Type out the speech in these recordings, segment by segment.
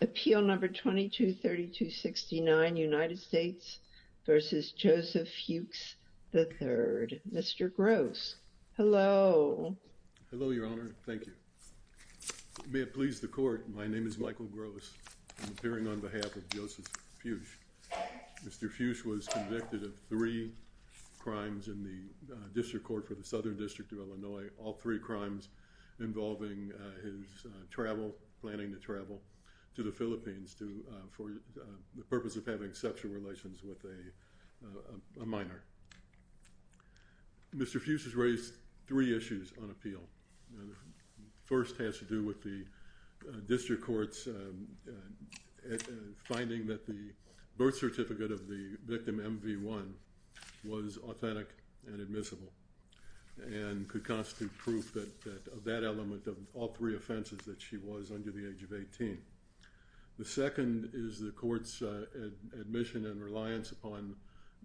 Appeal number 223269, United States v. Joseph Fuchs, III. Mr. Gross, hello. Hello, Your Honor. Thank you. May it please the court, my name is Michael Gross. I'm appearing on behalf of Joseph Fuchs. Mr. Fuchs was convicted of three crimes in the District Court for the Southern District of Illinois, all three crimes involving his travel, planning to travel to the Philippines for the purpose of having sexual relations with a minor. Mr. Fuchs has raised three issues on appeal. The first has to do with the District Court's finding that the birth certificate of the victim, MV1, was authentic and admissible and could constitute proof of that element of all three offenses that she was under the age of 18. The second is the court's admission and reliance upon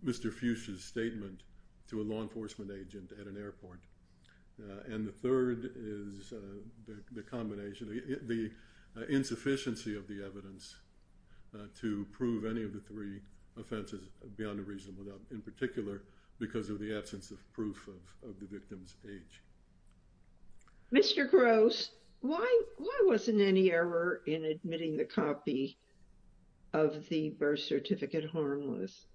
Mr. Fuchs's statement to a law enforcement agent at an airport. And the third is the combination, the insufficiency of the evidence to prove any of the three offenses beyond a reasonable doubt, in particular because of the absence of the victim's age. Mr. Gross, why wasn't any error in admitting the copy of the birth certificate harmless?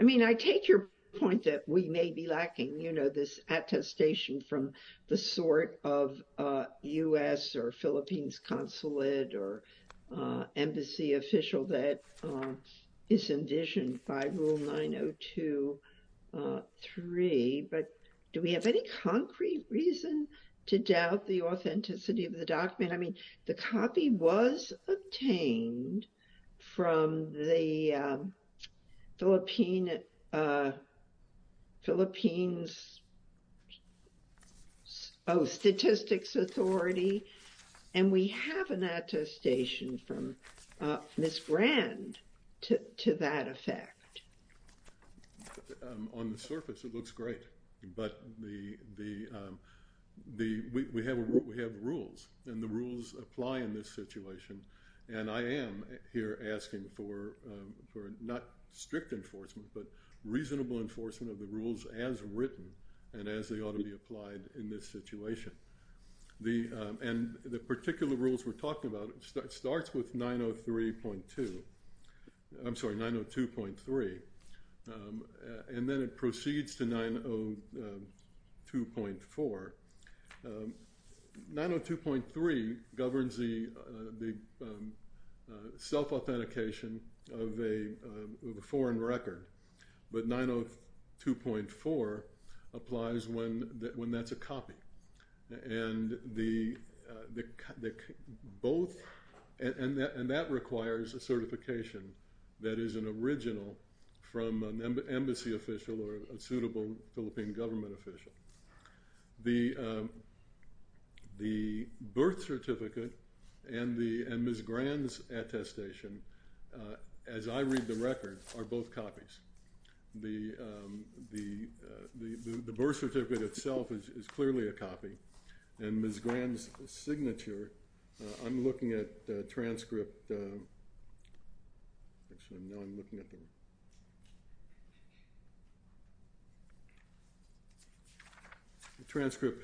I mean, I take your point that we may be lacking, you know, this attestation from the sort of U.S. or Philippines consulate or embassy official that is indigent by Rule 902.3, but do we have any concrete reason to doubt the authenticity of the document? I mean, the copy was obtained from the Philippines Statistics Authority, and we have an attestation from Ms. Grand to that effect. On the surface, it looks great, but we have rules, and the not strict enforcement, but reasonable enforcement of the rules as written and as they ought to be applied in this situation. And the particular rules we're talking about, it starts with 903.2, I'm sorry, 902.3, and then it is a foreign record, but 902.4 applies when that's a copy. And that requires a certification that is an original from an embassy official or a suitable Philippine government official. The birth certificate and Ms. Grand's signature are both copies. The birth certificate itself is clearly a copy, and Ms. Grand's signature, I'm looking at the transcript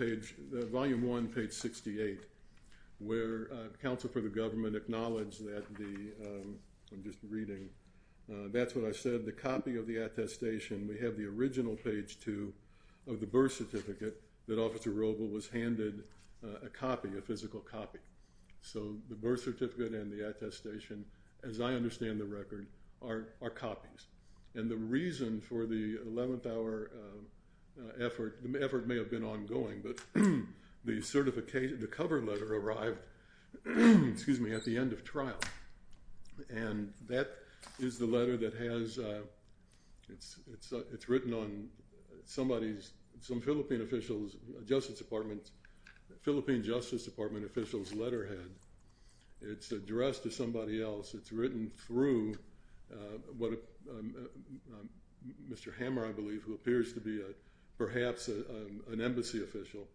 page, volume 1, page 68, where counsel for the government acknowledged that the, I'm just reading, that's what I said, the copy of the attestation. We have the original page 2 of the birth certificate that Officer Robel was handed a copy, a physical copy. So the birth certificate and the attestation, as I understand the record, are copies. And the reason for the 11th hour effort, the effort may have been ongoing, but the certification, the cover letter arrived, excuse me, at the end of trial. And that is the letter that has, it's written on somebody's, some Philippine officials, Justice Department, Philippine Justice Department officials letterhead. It's addressed to somebody else. It's written through what Mr. Hammer, I believe, who appears to be a perhaps an embassy official,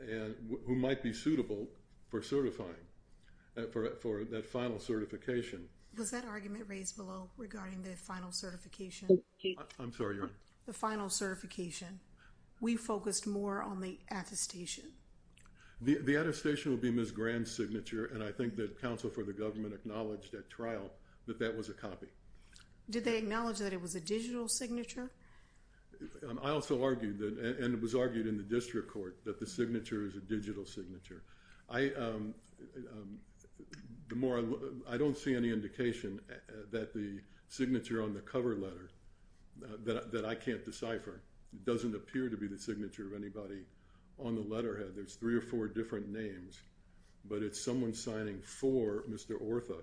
and who might be suitable for certifying for that final certification. Was that argument raised below regarding the final certification? I'm sorry. The final certification. We focused more on the attestation. The attestation would be Ms. Grand's signature, and I think that counsel for the government acknowledged at trial that that was a copy. Did they acknowledge that it was a digital signature? I also argued that, and it was argued in the district court, that the signature is a digital signature. I, the more, I don't see any indication that the signature on the cover letter, that I can't decipher, doesn't appear to be the signature of anybody on the letterhead. There's three or four different names, but it's someone signing for Mr. Ortha,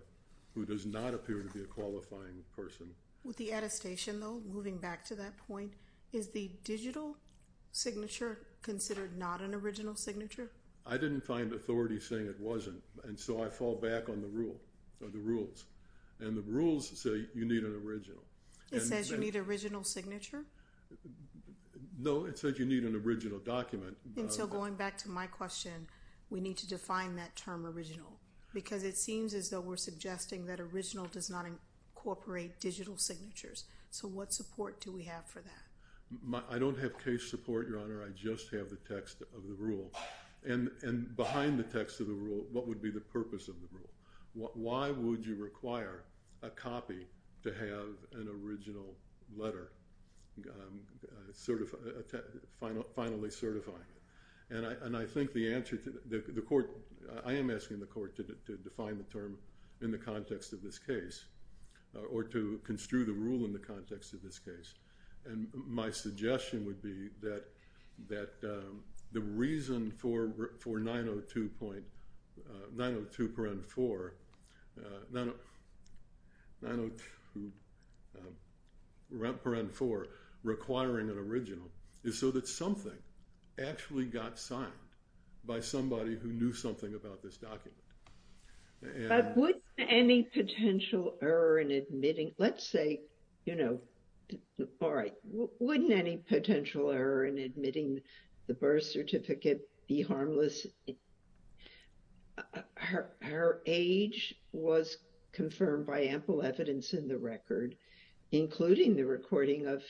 who does not appear to be a qualifying person. With the attestation, though, moving back to that point, is the digital signature considered not an original signature? I didn't find authorities saying it wasn't, and so I fall back on the rule, or the rules, and the rules say you need an original. It says you need original signature? No, it says you need an original document. And so going back to my question, we need to define that term original, because it seems as though we're suggesting that original does not incorporate digital signatures. So what support do we have for that? I don't have case support, Your Honor, I just have the text of the rule. And behind the text of the rule, what would be the purpose of the rule? Why would you require a copy to have an original letter, finally certifying it? And I think the answer to, the court, I am asking the court to define the term in the context of this case, or to construe the rule in the context of this case, and my suggestion would be that the reason for 902 point, 902 parent 4, 902 parent 4 requiring an original is so that something actually got signed by somebody who knew something about this potential error in admitting, let's say, you know, all right, wouldn't any potential error in admitting the birth certificate be harmless? Her age was confirmed by ample evidence in the record, including the recording of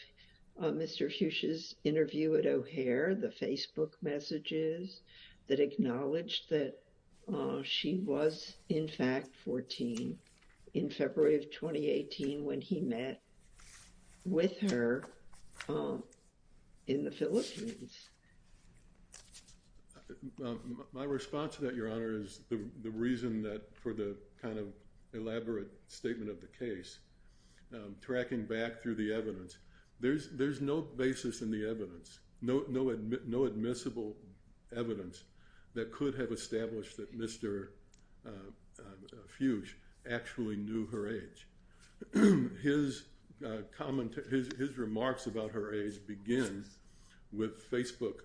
Mr. Fuchs's interview at O'Hare, the Facebook messages that acknowledged that she was in fact 14 in February of 2018 when he met with her in the Philippines. My response to that, Your Honor, is the reason that for the kind of elaborate statement of the case, tracking back through the evidence, there is no basis in the evidence, no admissible evidence that could have established that Mr. Fuchs actually knew her age. His remarks about her age begin with Facebook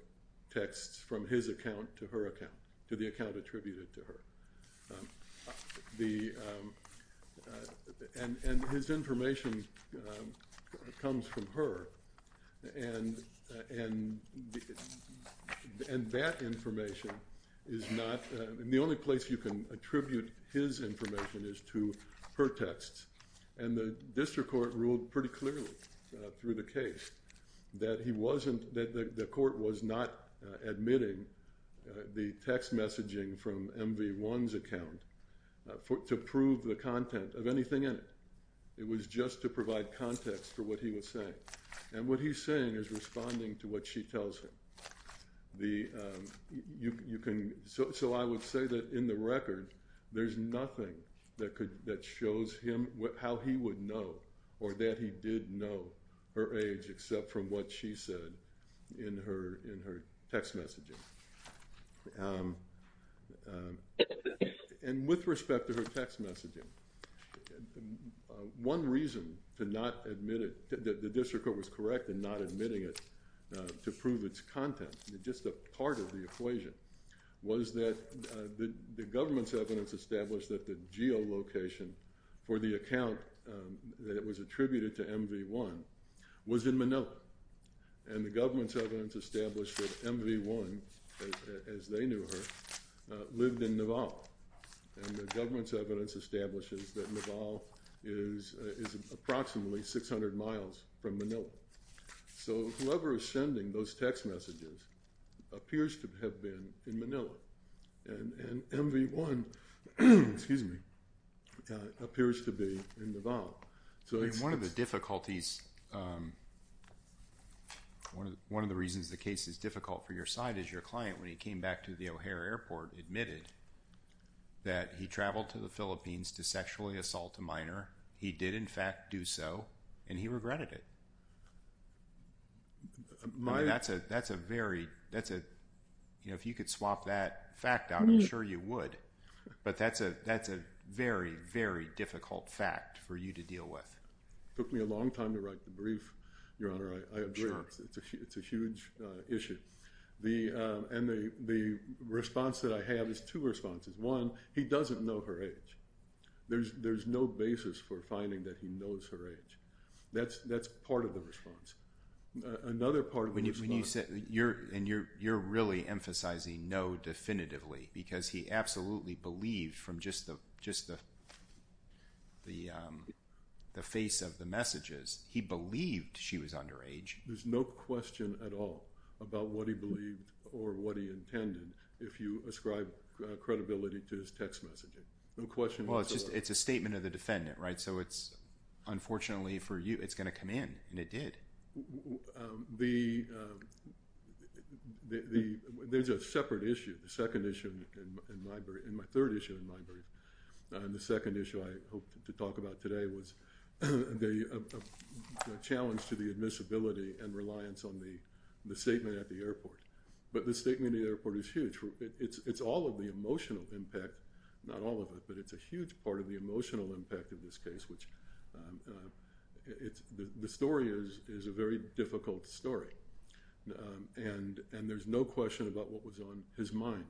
texts from his account to her account, to the account attributed to her, and his information comes from her, and that information is not, the only place you can attribute his information is to her texts, and the district court ruled pretty clearly through the case that he wasn't, that the court was not admitting the text messaging from MV1's account to prove the content of anything in it. It was just to provide context for what he was saying, and what he's saying is responding to what she tells him. The, you can, so I would say that in the record there's nothing that could, that shows him what, how he would know or that he did know her age except from what she said in her, in her text messaging. And with respect to her text messaging, one reason to not admit it, that the district court was correct in not admitting it to prove its content, just a part of the equation, was that the government's evidence established that the geolocation for the account that it was attributed to MV1 was in Manila, and the government's evidence established that MV1, as they knew her, lived in Naval, and the government's evidence establishes that Naval is approximately 600 miles from Manila. So whoever is text messages appears to have been in Manila, and MV1, excuse me, appears to be in Naval. So it's... One of the difficulties, one of the reasons the case is difficult for your side is your client, when he came back to the O'Hare Airport, admitted that he traveled to the Philippines to sexually assault a minor. He did, in fact, do so, and he regretted it. That's a, that's a very, that's a, you know, if you could swap that fact out, I'm sure you would, but that's a, that's a very, very difficult fact for you to deal with. Took me a long time to write the brief, Your Honor, I agree. It's a huge issue. The, and the, the response that I have is two responses. One, he doesn't know her age. There's, there's no basis for finding that he knows her age. That's, that's part of the response. Another part of the response... When you said, you're, and you're, you're really emphasizing no definitively, because he absolutely believed from just the, just the, the, the face of the messages, he believed she was underage. There's no question at all about what he believed. He didn't have credibility to his text messaging. No question whatsoever. Well, it's just, it's a statement of the defendant, right? So it's, unfortunately for you, it's going to come in, and it did. The, the, there's a separate issue. The second issue in my brief, and my third issue in my brief, and the second issue I hope to talk about today was the challenge to the admissibility and reliance on the, the statement at the airport. But the statement at the airport is huge. It's, it's all of the emotional impact, not all of it, but it's a huge part of the emotional impact of this case, which it's, the story is, is a very difficult story. And, and there's no question about what was on his mind,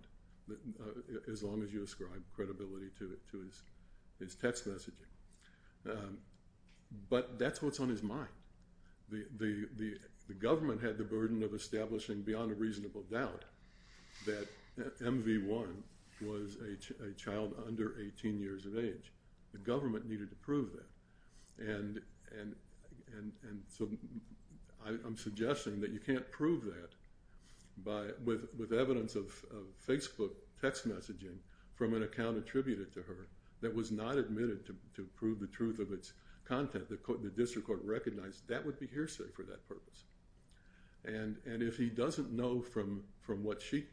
as long as you ascribe credibility to it, to his, his text messaging. But that's what's on his mind. The, the, the government had the burden of establishing beyond a MV1 was a child under 18 years of age. The government needed to prove that. And, and, and, and so I'm suggesting that you can't prove that by, with, with evidence of Facebook text messaging from an account attributed to her that was not admitted to prove the truth of its content. The court, the district court recognized that would be hearsay for that purpose. And, and if he doesn't know from, from what she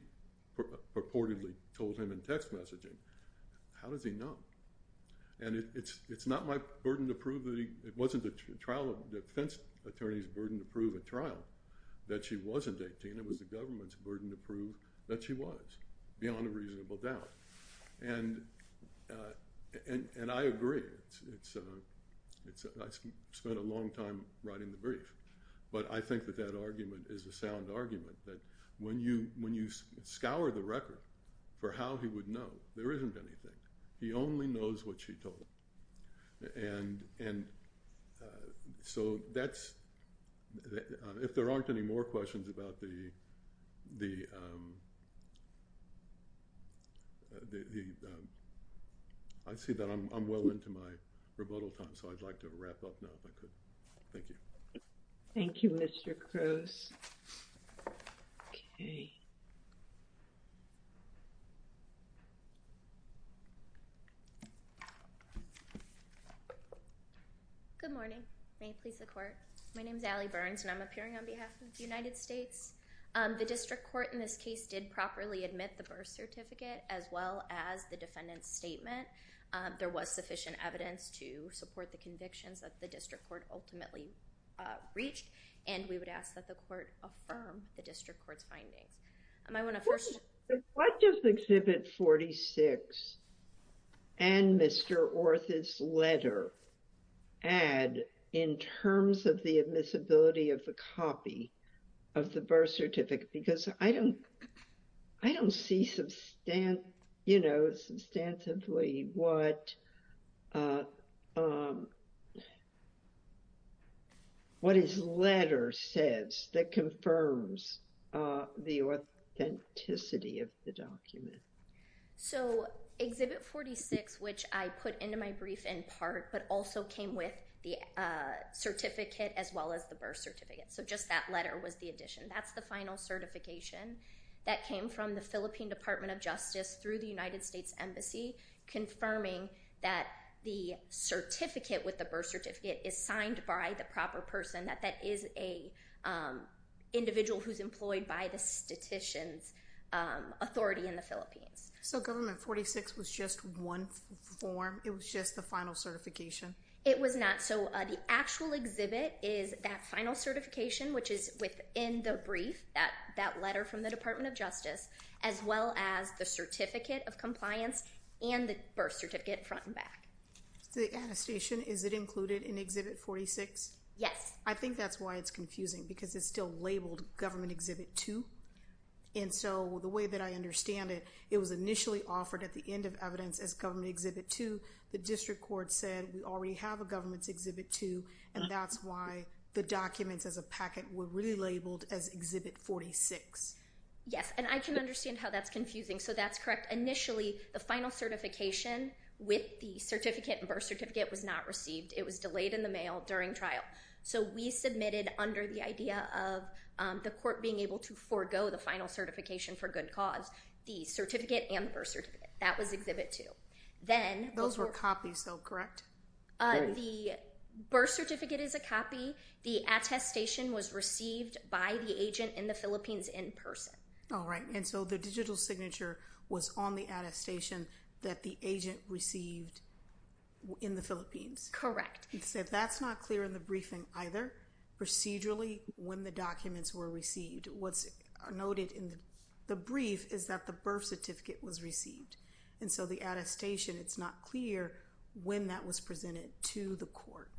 purportedly told him in text messaging, how does he know? And it's, it's not my burden to prove that he, it wasn't the trial of defense attorney's burden to prove at trial that she wasn't 18. It was the government's burden to prove that she was, beyond a reasonable doubt. And, and, and I agree. It's, it's, it's, I spent a long time writing the brief, but I think that that when you, when you scour the record for how he would know, there isn't anything. He only knows what she told him. And, and so that's, if there aren't any more questions about the, the, the, I see that I'm well into my rebuttal time, so I'd like to wrap up now if I could. Thank you. Thank you, Mr. Cruz. Okay. Good morning. May it please the court. My name is Allie Burns and I'm appearing on behalf of the United States. The district court in this case did properly admit the birth certificate as well as the defendant's statement. There was sufficient evidence to support the convictions that the district court ultimately reached and we would ask that the court affirm the district court's findings. I might want to first... What does Exhibit 46 and Mr. Orth's letter add in terms of the admissibility of the copy of the birth certificate? Because I don't, I don't see substant, you know, substantively what, what his letter says that confirms the authenticity of the document. So Exhibit 46, which I put into my brief in part, but also came with the certificate as well as the birth certificate, so just that letter was the addition. That's the final certification that came from the Department of Justice through the United States Embassy confirming that the certificate with the birth certificate is signed by the proper person, that that is a individual who's employed by the statistician's authority in the Philippines. So Government 46 was just one form? It was just the final certification? It was not. So the actual exhibit is that final certification, which is within the brief, that, that letter from the Department of Justice, as well as the certificate of compliance and the birth certificate front and back. The attestation, is it included in Exhibit 46? Yes. I think that's why it's confusing because it's still labeled Government Exhibit 2, and so the way that I understand it, it was initially offered at the end of evidence as Government Exhibit 2. The district court said we already have a Government's Exhibit 2, and that's why the documents as a packet were really labeled as Exhibit 46. Yes, and I can understand how that's confusing. So that's correct. Initially, the final certification with the certificate and birth certificate was not received. It was delayed in the mail during trial. So we submitted under the idea of the court being able to forego the final certification for good cause, the certificate and birth certificate. That was Exhibit 2. Then, those were copies though, correct? The birth certificate is a copy. The attestation was received by the agent in the Philippines in person. All right, and so the digital signature was on the attestation that the agent received in the Philippines. Correct. That's not clear in the briefing either. Procedurally, when the documents were received, what's noted in the brief is that the birth certificate was received, and so the attestation, it's not clear when that was presented to the court.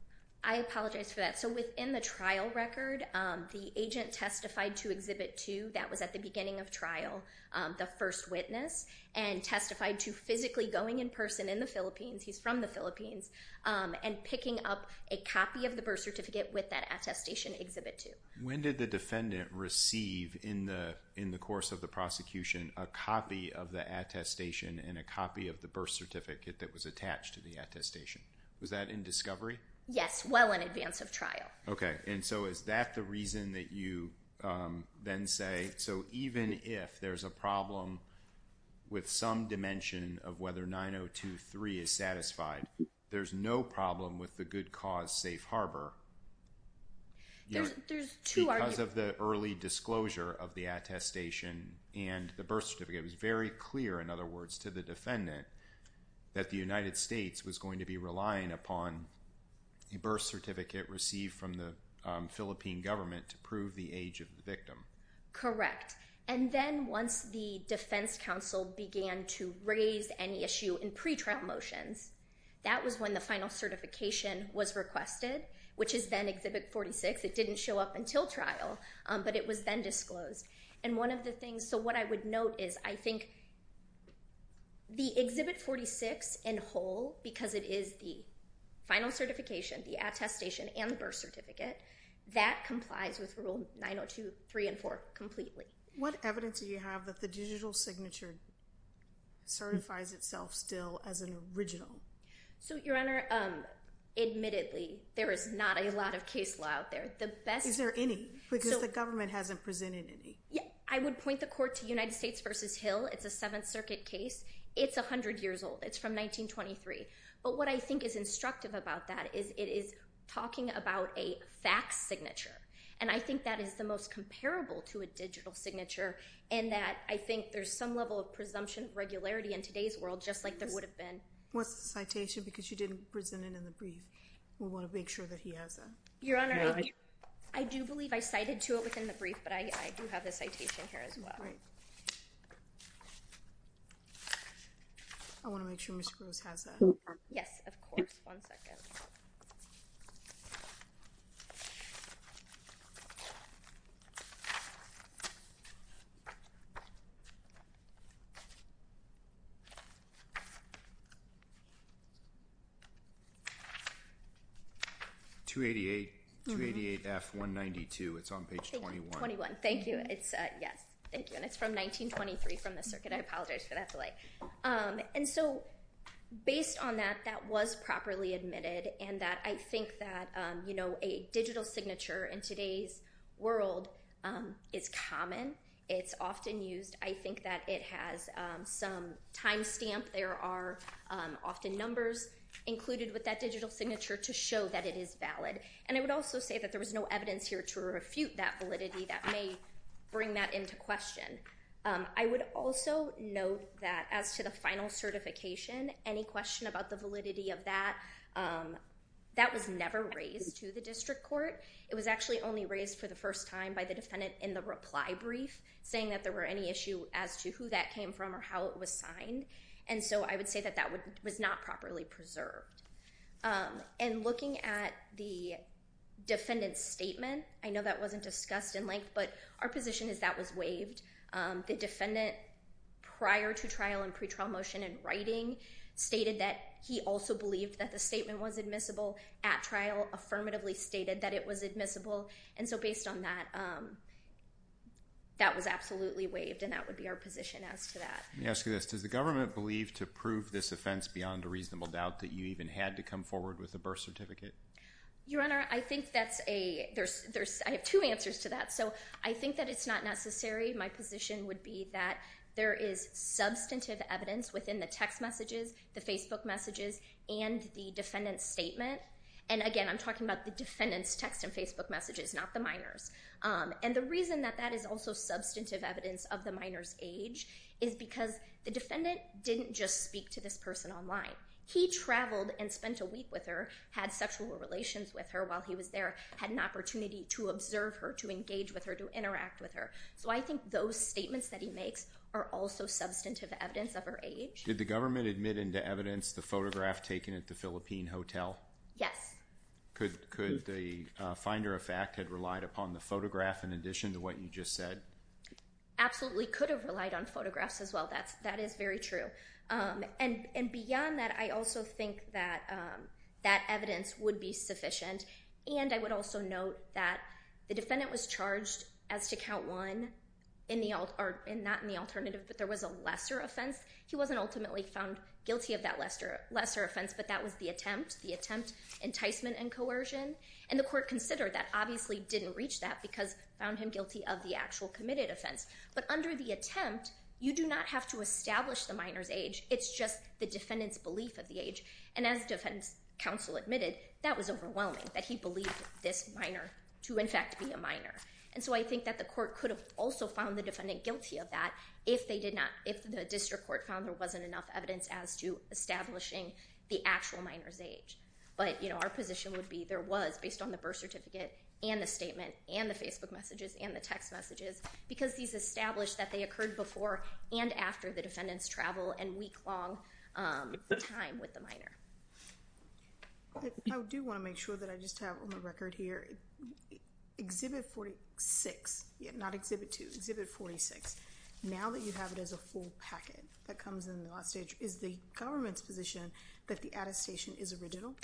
I testified to Exhibit 2. That was at the beginning of trial, the first witness, and testified to physically going in person in the Philippines. He's from the Philippines and picking up a copy of the birth certificate with that attestation Exhibit 2. When did the defendant receive in the course of the prosecution a copy of the attestation and a copy of the birth certificate that was attached to the attestation? Was that in discovery? Yes, well in advance of trial. Okay, and so is that the reason that you then say, so even if there's a problem with some dimension of whether 902.3 is satisfied, there's no problem with the good cause safe harbor. There's two arguments. Because of the early disclosure of the attestation and the birth certificate, it was very clear, in other words, to the defendant that the United States was going to be relying upon a birth certificate from the Philippine government to prove the age of the victim. Correct, and then once the defense counsel began to raise any issue in pretrial motions, that was when the final certification was requested, which is then Exhibit 46. It didn't show up until trial, but it was then disclosed. And one of the things, so what I would note is, I think the Exhibit 46 in whole, because it is the final certification, the attestation and the birth certificate, that complies with Rule 902.3 and 4 completely. What evidence do you have that the digital signature certifies itself still as an original? So, Your Honor, admittedly, there is not a lot of case law out there. Is there any? Because the government hasn't presented any. Yeah, I would point the court to United States v. Hill. It's a Seventh Circuit case. It's a hundred years old. It's from 1923. But what I think is instructive about that is, it is talking about a fax signature. And I think that is the most comparable to a digital signature, in that I think there's some level of presumption of regularity in today's world, just like there would have been. What's the citation? Because you didn't present it in the brief. We want to make sure that he has that. Your Honor, I do believe I cited to it within the brief, but I do have the citation here as well. I want to make sure Ms. Gross has that. Yes, of course. One second. 288. 288 F 192. It's on page 21. Thank you. It's from 1923 from the United States. Based on that, that was properly admitted, and that I think that, you know, a digital signature in today's world is common. It's often used. I think that it has some time stamp. There are often numbers included with that digital signature to show that it is valid. And I would also say that there was no evidence here to refute that validity. That may bring that into question. I would also note that as to the final certification, any question about the validity of that, that was never raised to the district court. It was actually only raised for the first time by the defendant in the reply brief, saying that there were any issue as to who that came from or how it was signed. And so I would say that that was not properly preserved. And looking at the defendant's statement, I know that wasn't discussed in length, but our position is that was prior to trial and pre-trial motion in writing stated that he also believed that the statement was admissible at trial, affirmatively stated that it was admissible. And so based on that, that was absolutely waived, and that would be our position as to that. Let me ask you this. Does the government believe to prove this offense beyond a reasonable doubt that you even had to come forward with a birth certificate? Your Honor, I think that's a, there's, there's, I have two answers to that. So I think that it's not necessary. My position would be that there is substantive evidence within the text messages, the Facebook messages, and the defendant's statement. And again, I'm talking about the defendant's text and Facebook messages, not the minors. And the reason that that is also substantive evidence of the minor's age is because the defendant didn't just speak to this person online. He traveled and spent a week with her, had sexual relations with her while he was there, had an opportunity to observe her, to engage with her, to interact with her. So I think those statements that he makes are also substantive evidence of her age. Did the government admit into evidence the photograph taken at the Philippine Hotel? Yes. Could, could the finder of fact had relied upon the photograph in addition to what you just said? Absolutely, could have relied on photographs as well. That's, that is very true. And, and beyond that, I also think that that evidence would be sufficient. And I would also note that the defendant was charged as to count one in the, or not in the alternative, but there was a lesser offense. He wasn't ultimately found guilty of that lesser, lesser offense, but that was the attempt, the attempt enticement and coercion. And the court considered that obviously didn't reach that because found him guilty of the actual committed offense. But under the attempt, you do not have to establish the minor's age. It's just the defendant's belief of the age. And as defense counsel admitted, that was overwhelming that he believed this minor to in fact be a minor. And so I think that the court could have also found the defendant guilty of that if they did not, if the district court found there wasn't enough evidence as to establishing the actual minor's age. But, you know, our position would be there was, based on the birth certificate and the statement and the Facebook messages and the text messages, because these established that they occurred before and after the time with the minor. I do want to make sure that I just have on the record here, Exhibit 46, not Exhibit 2, Exhibit 46, now that you have it as a full packet that comes in the last stage, is the government's position that the attestation is original?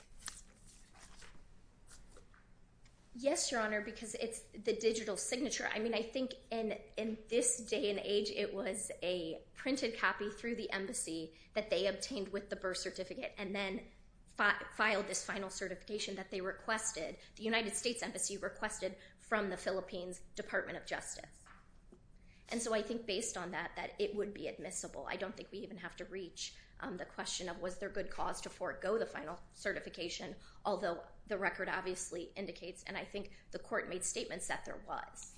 Yes, Your Honor, because it's the digital signature. I mean, I think in, in this day and age, it was a printed copy through the embassy that they obtained with the birth certificate and then filed this final certification that they requested, the United States Embassy requested from the Philippines Department of Justice. And so I think based on that, that it would be admissible. I don't think we even have to reach the question of was there good cause to forego the final certification, although the record obviously indicates, and I think the court made statements that there was.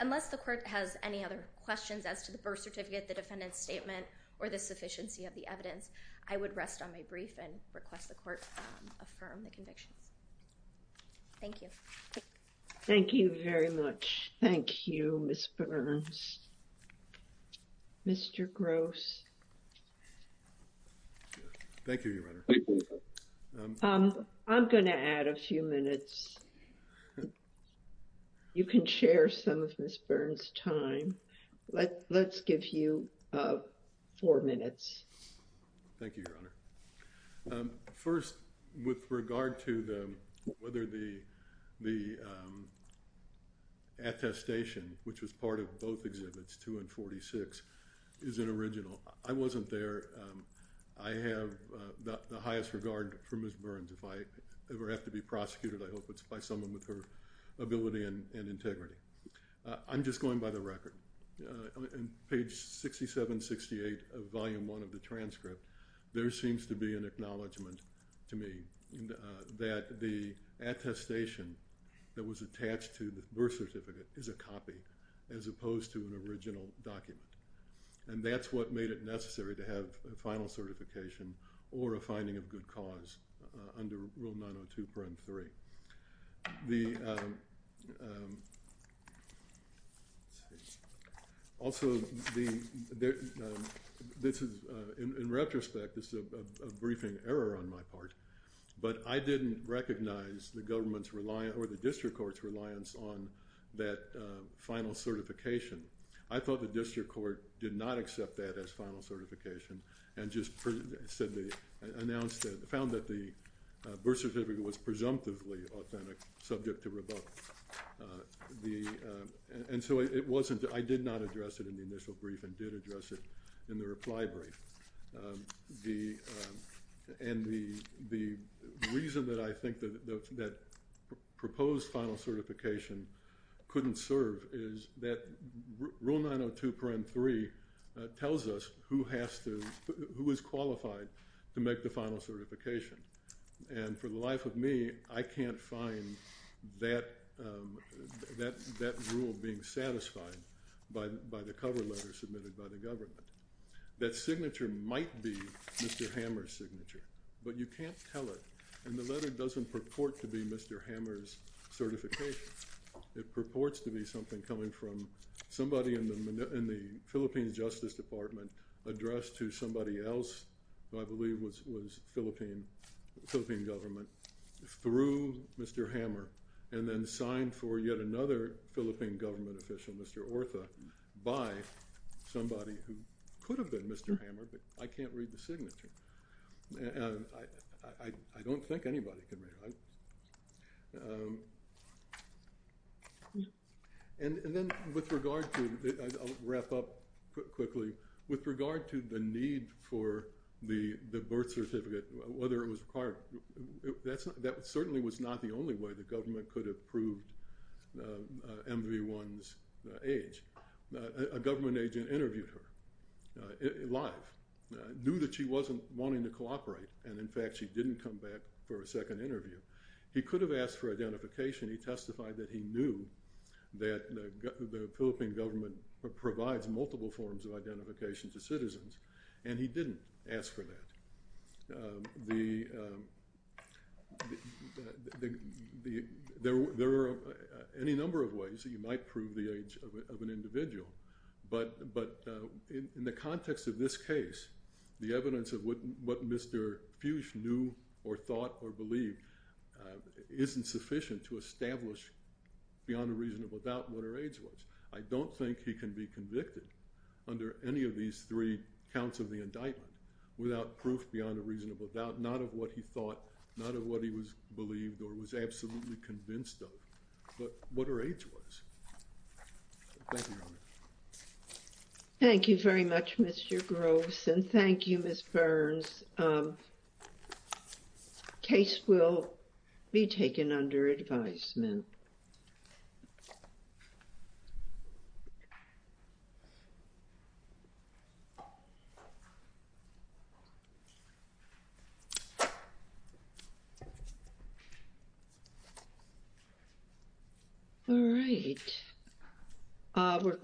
Unless the court has any other questions as to the birth certificate, the defendant's statement, or the sufficiency of the evidence, I would rest on my brief and request the court affirm the convictions. Thank you. Thank you very much. Thank you, Ms. Burns. Mr. Gross. Thank you, Your Honor. I'm gonna add a few minutes. You can share some of Ms. Burns' testimony. Let, let's give you four minutes. Thank you, Your Honor. First, with regard to the, whether the, the attestation, which was part of both exhibits, 2 and 46, is an original. I wasn't there. I have the highest regard for Ms. Burns. If I ever have to be prosecuted, I hope it's by someone with her ability and integrity. I'm just going by the record. On page 67-68 of volume 1 of the transcript, there seems to be an acknowledgement to me that the attestation that was attached to the birth certificate is a copy, as opposed to an original document, and that's what made it necessary to have a final certification. Also, the, this is, in retrospect, this is a briefing error on my part, but I didn't recognize the government's reliance or the district court's reliance on that final certification. I thought the district court did not accept that as final certification and just said they announced that, found that the birth certificate was presumptively authentic, subject to revoke. The, and so it wasn't, I did not address it in the initial brief and did address it in the reply brief. The, and the, the reason that I think that that proposed final certification couldn't serve is that Rule 902.3 tells us who has to, who is qualified to make the final certification, and for the life of me, I can't find that, that, that rule being satisfied by, by the cover letter submitted by the government. That signature might be Mr. Hammer's signature, but you can't tell it, and the letter doesn't purport to be Mr. Hammer's certification. It purports to be something coming from somebody in the, in the Philippines Justice Department addressed to somebody else, who I believe was, was Philippine, Philippine government, through Mr. Hammer, and then signed for yet another Philippine government official, Mr. Ortha, by somebody who could have been Mr. Hammer, but I can't read the signature. I, I don't think anybody can read it. And, and then with regard to, I'll wrap up quickly, with regard to the need for the, the birth certificate, whether it was required, that's not, that certainly was not the only way the government could have proved MV1's age. A government agent interviewed her, live, knew that she wasn't wanting to cooperate, and in fact she didn't come back for a second interview. He could have asked for the Philippine government provides multiple forms of identification to citizens, and he didn't ask for that. The, the, there, there are any number of ways that you might prove the age of an individual, but, but in the context of this case, the evidence of what, what Mr. Fuchs knew, or thought, or believed, isn't sufficient to establish beyond a reasonable doubt what her age was. I don't think he can be convicted under any of these three counts of the indictment without proof beyond a reasonable doubt, not of what he thought, not of what he was believed, or was absolutely convinced of, but what her age was. Thank you. Thank you very much, Mr. Groves, and thank you, Ms. Burns. Case will be taken under advisement. All right.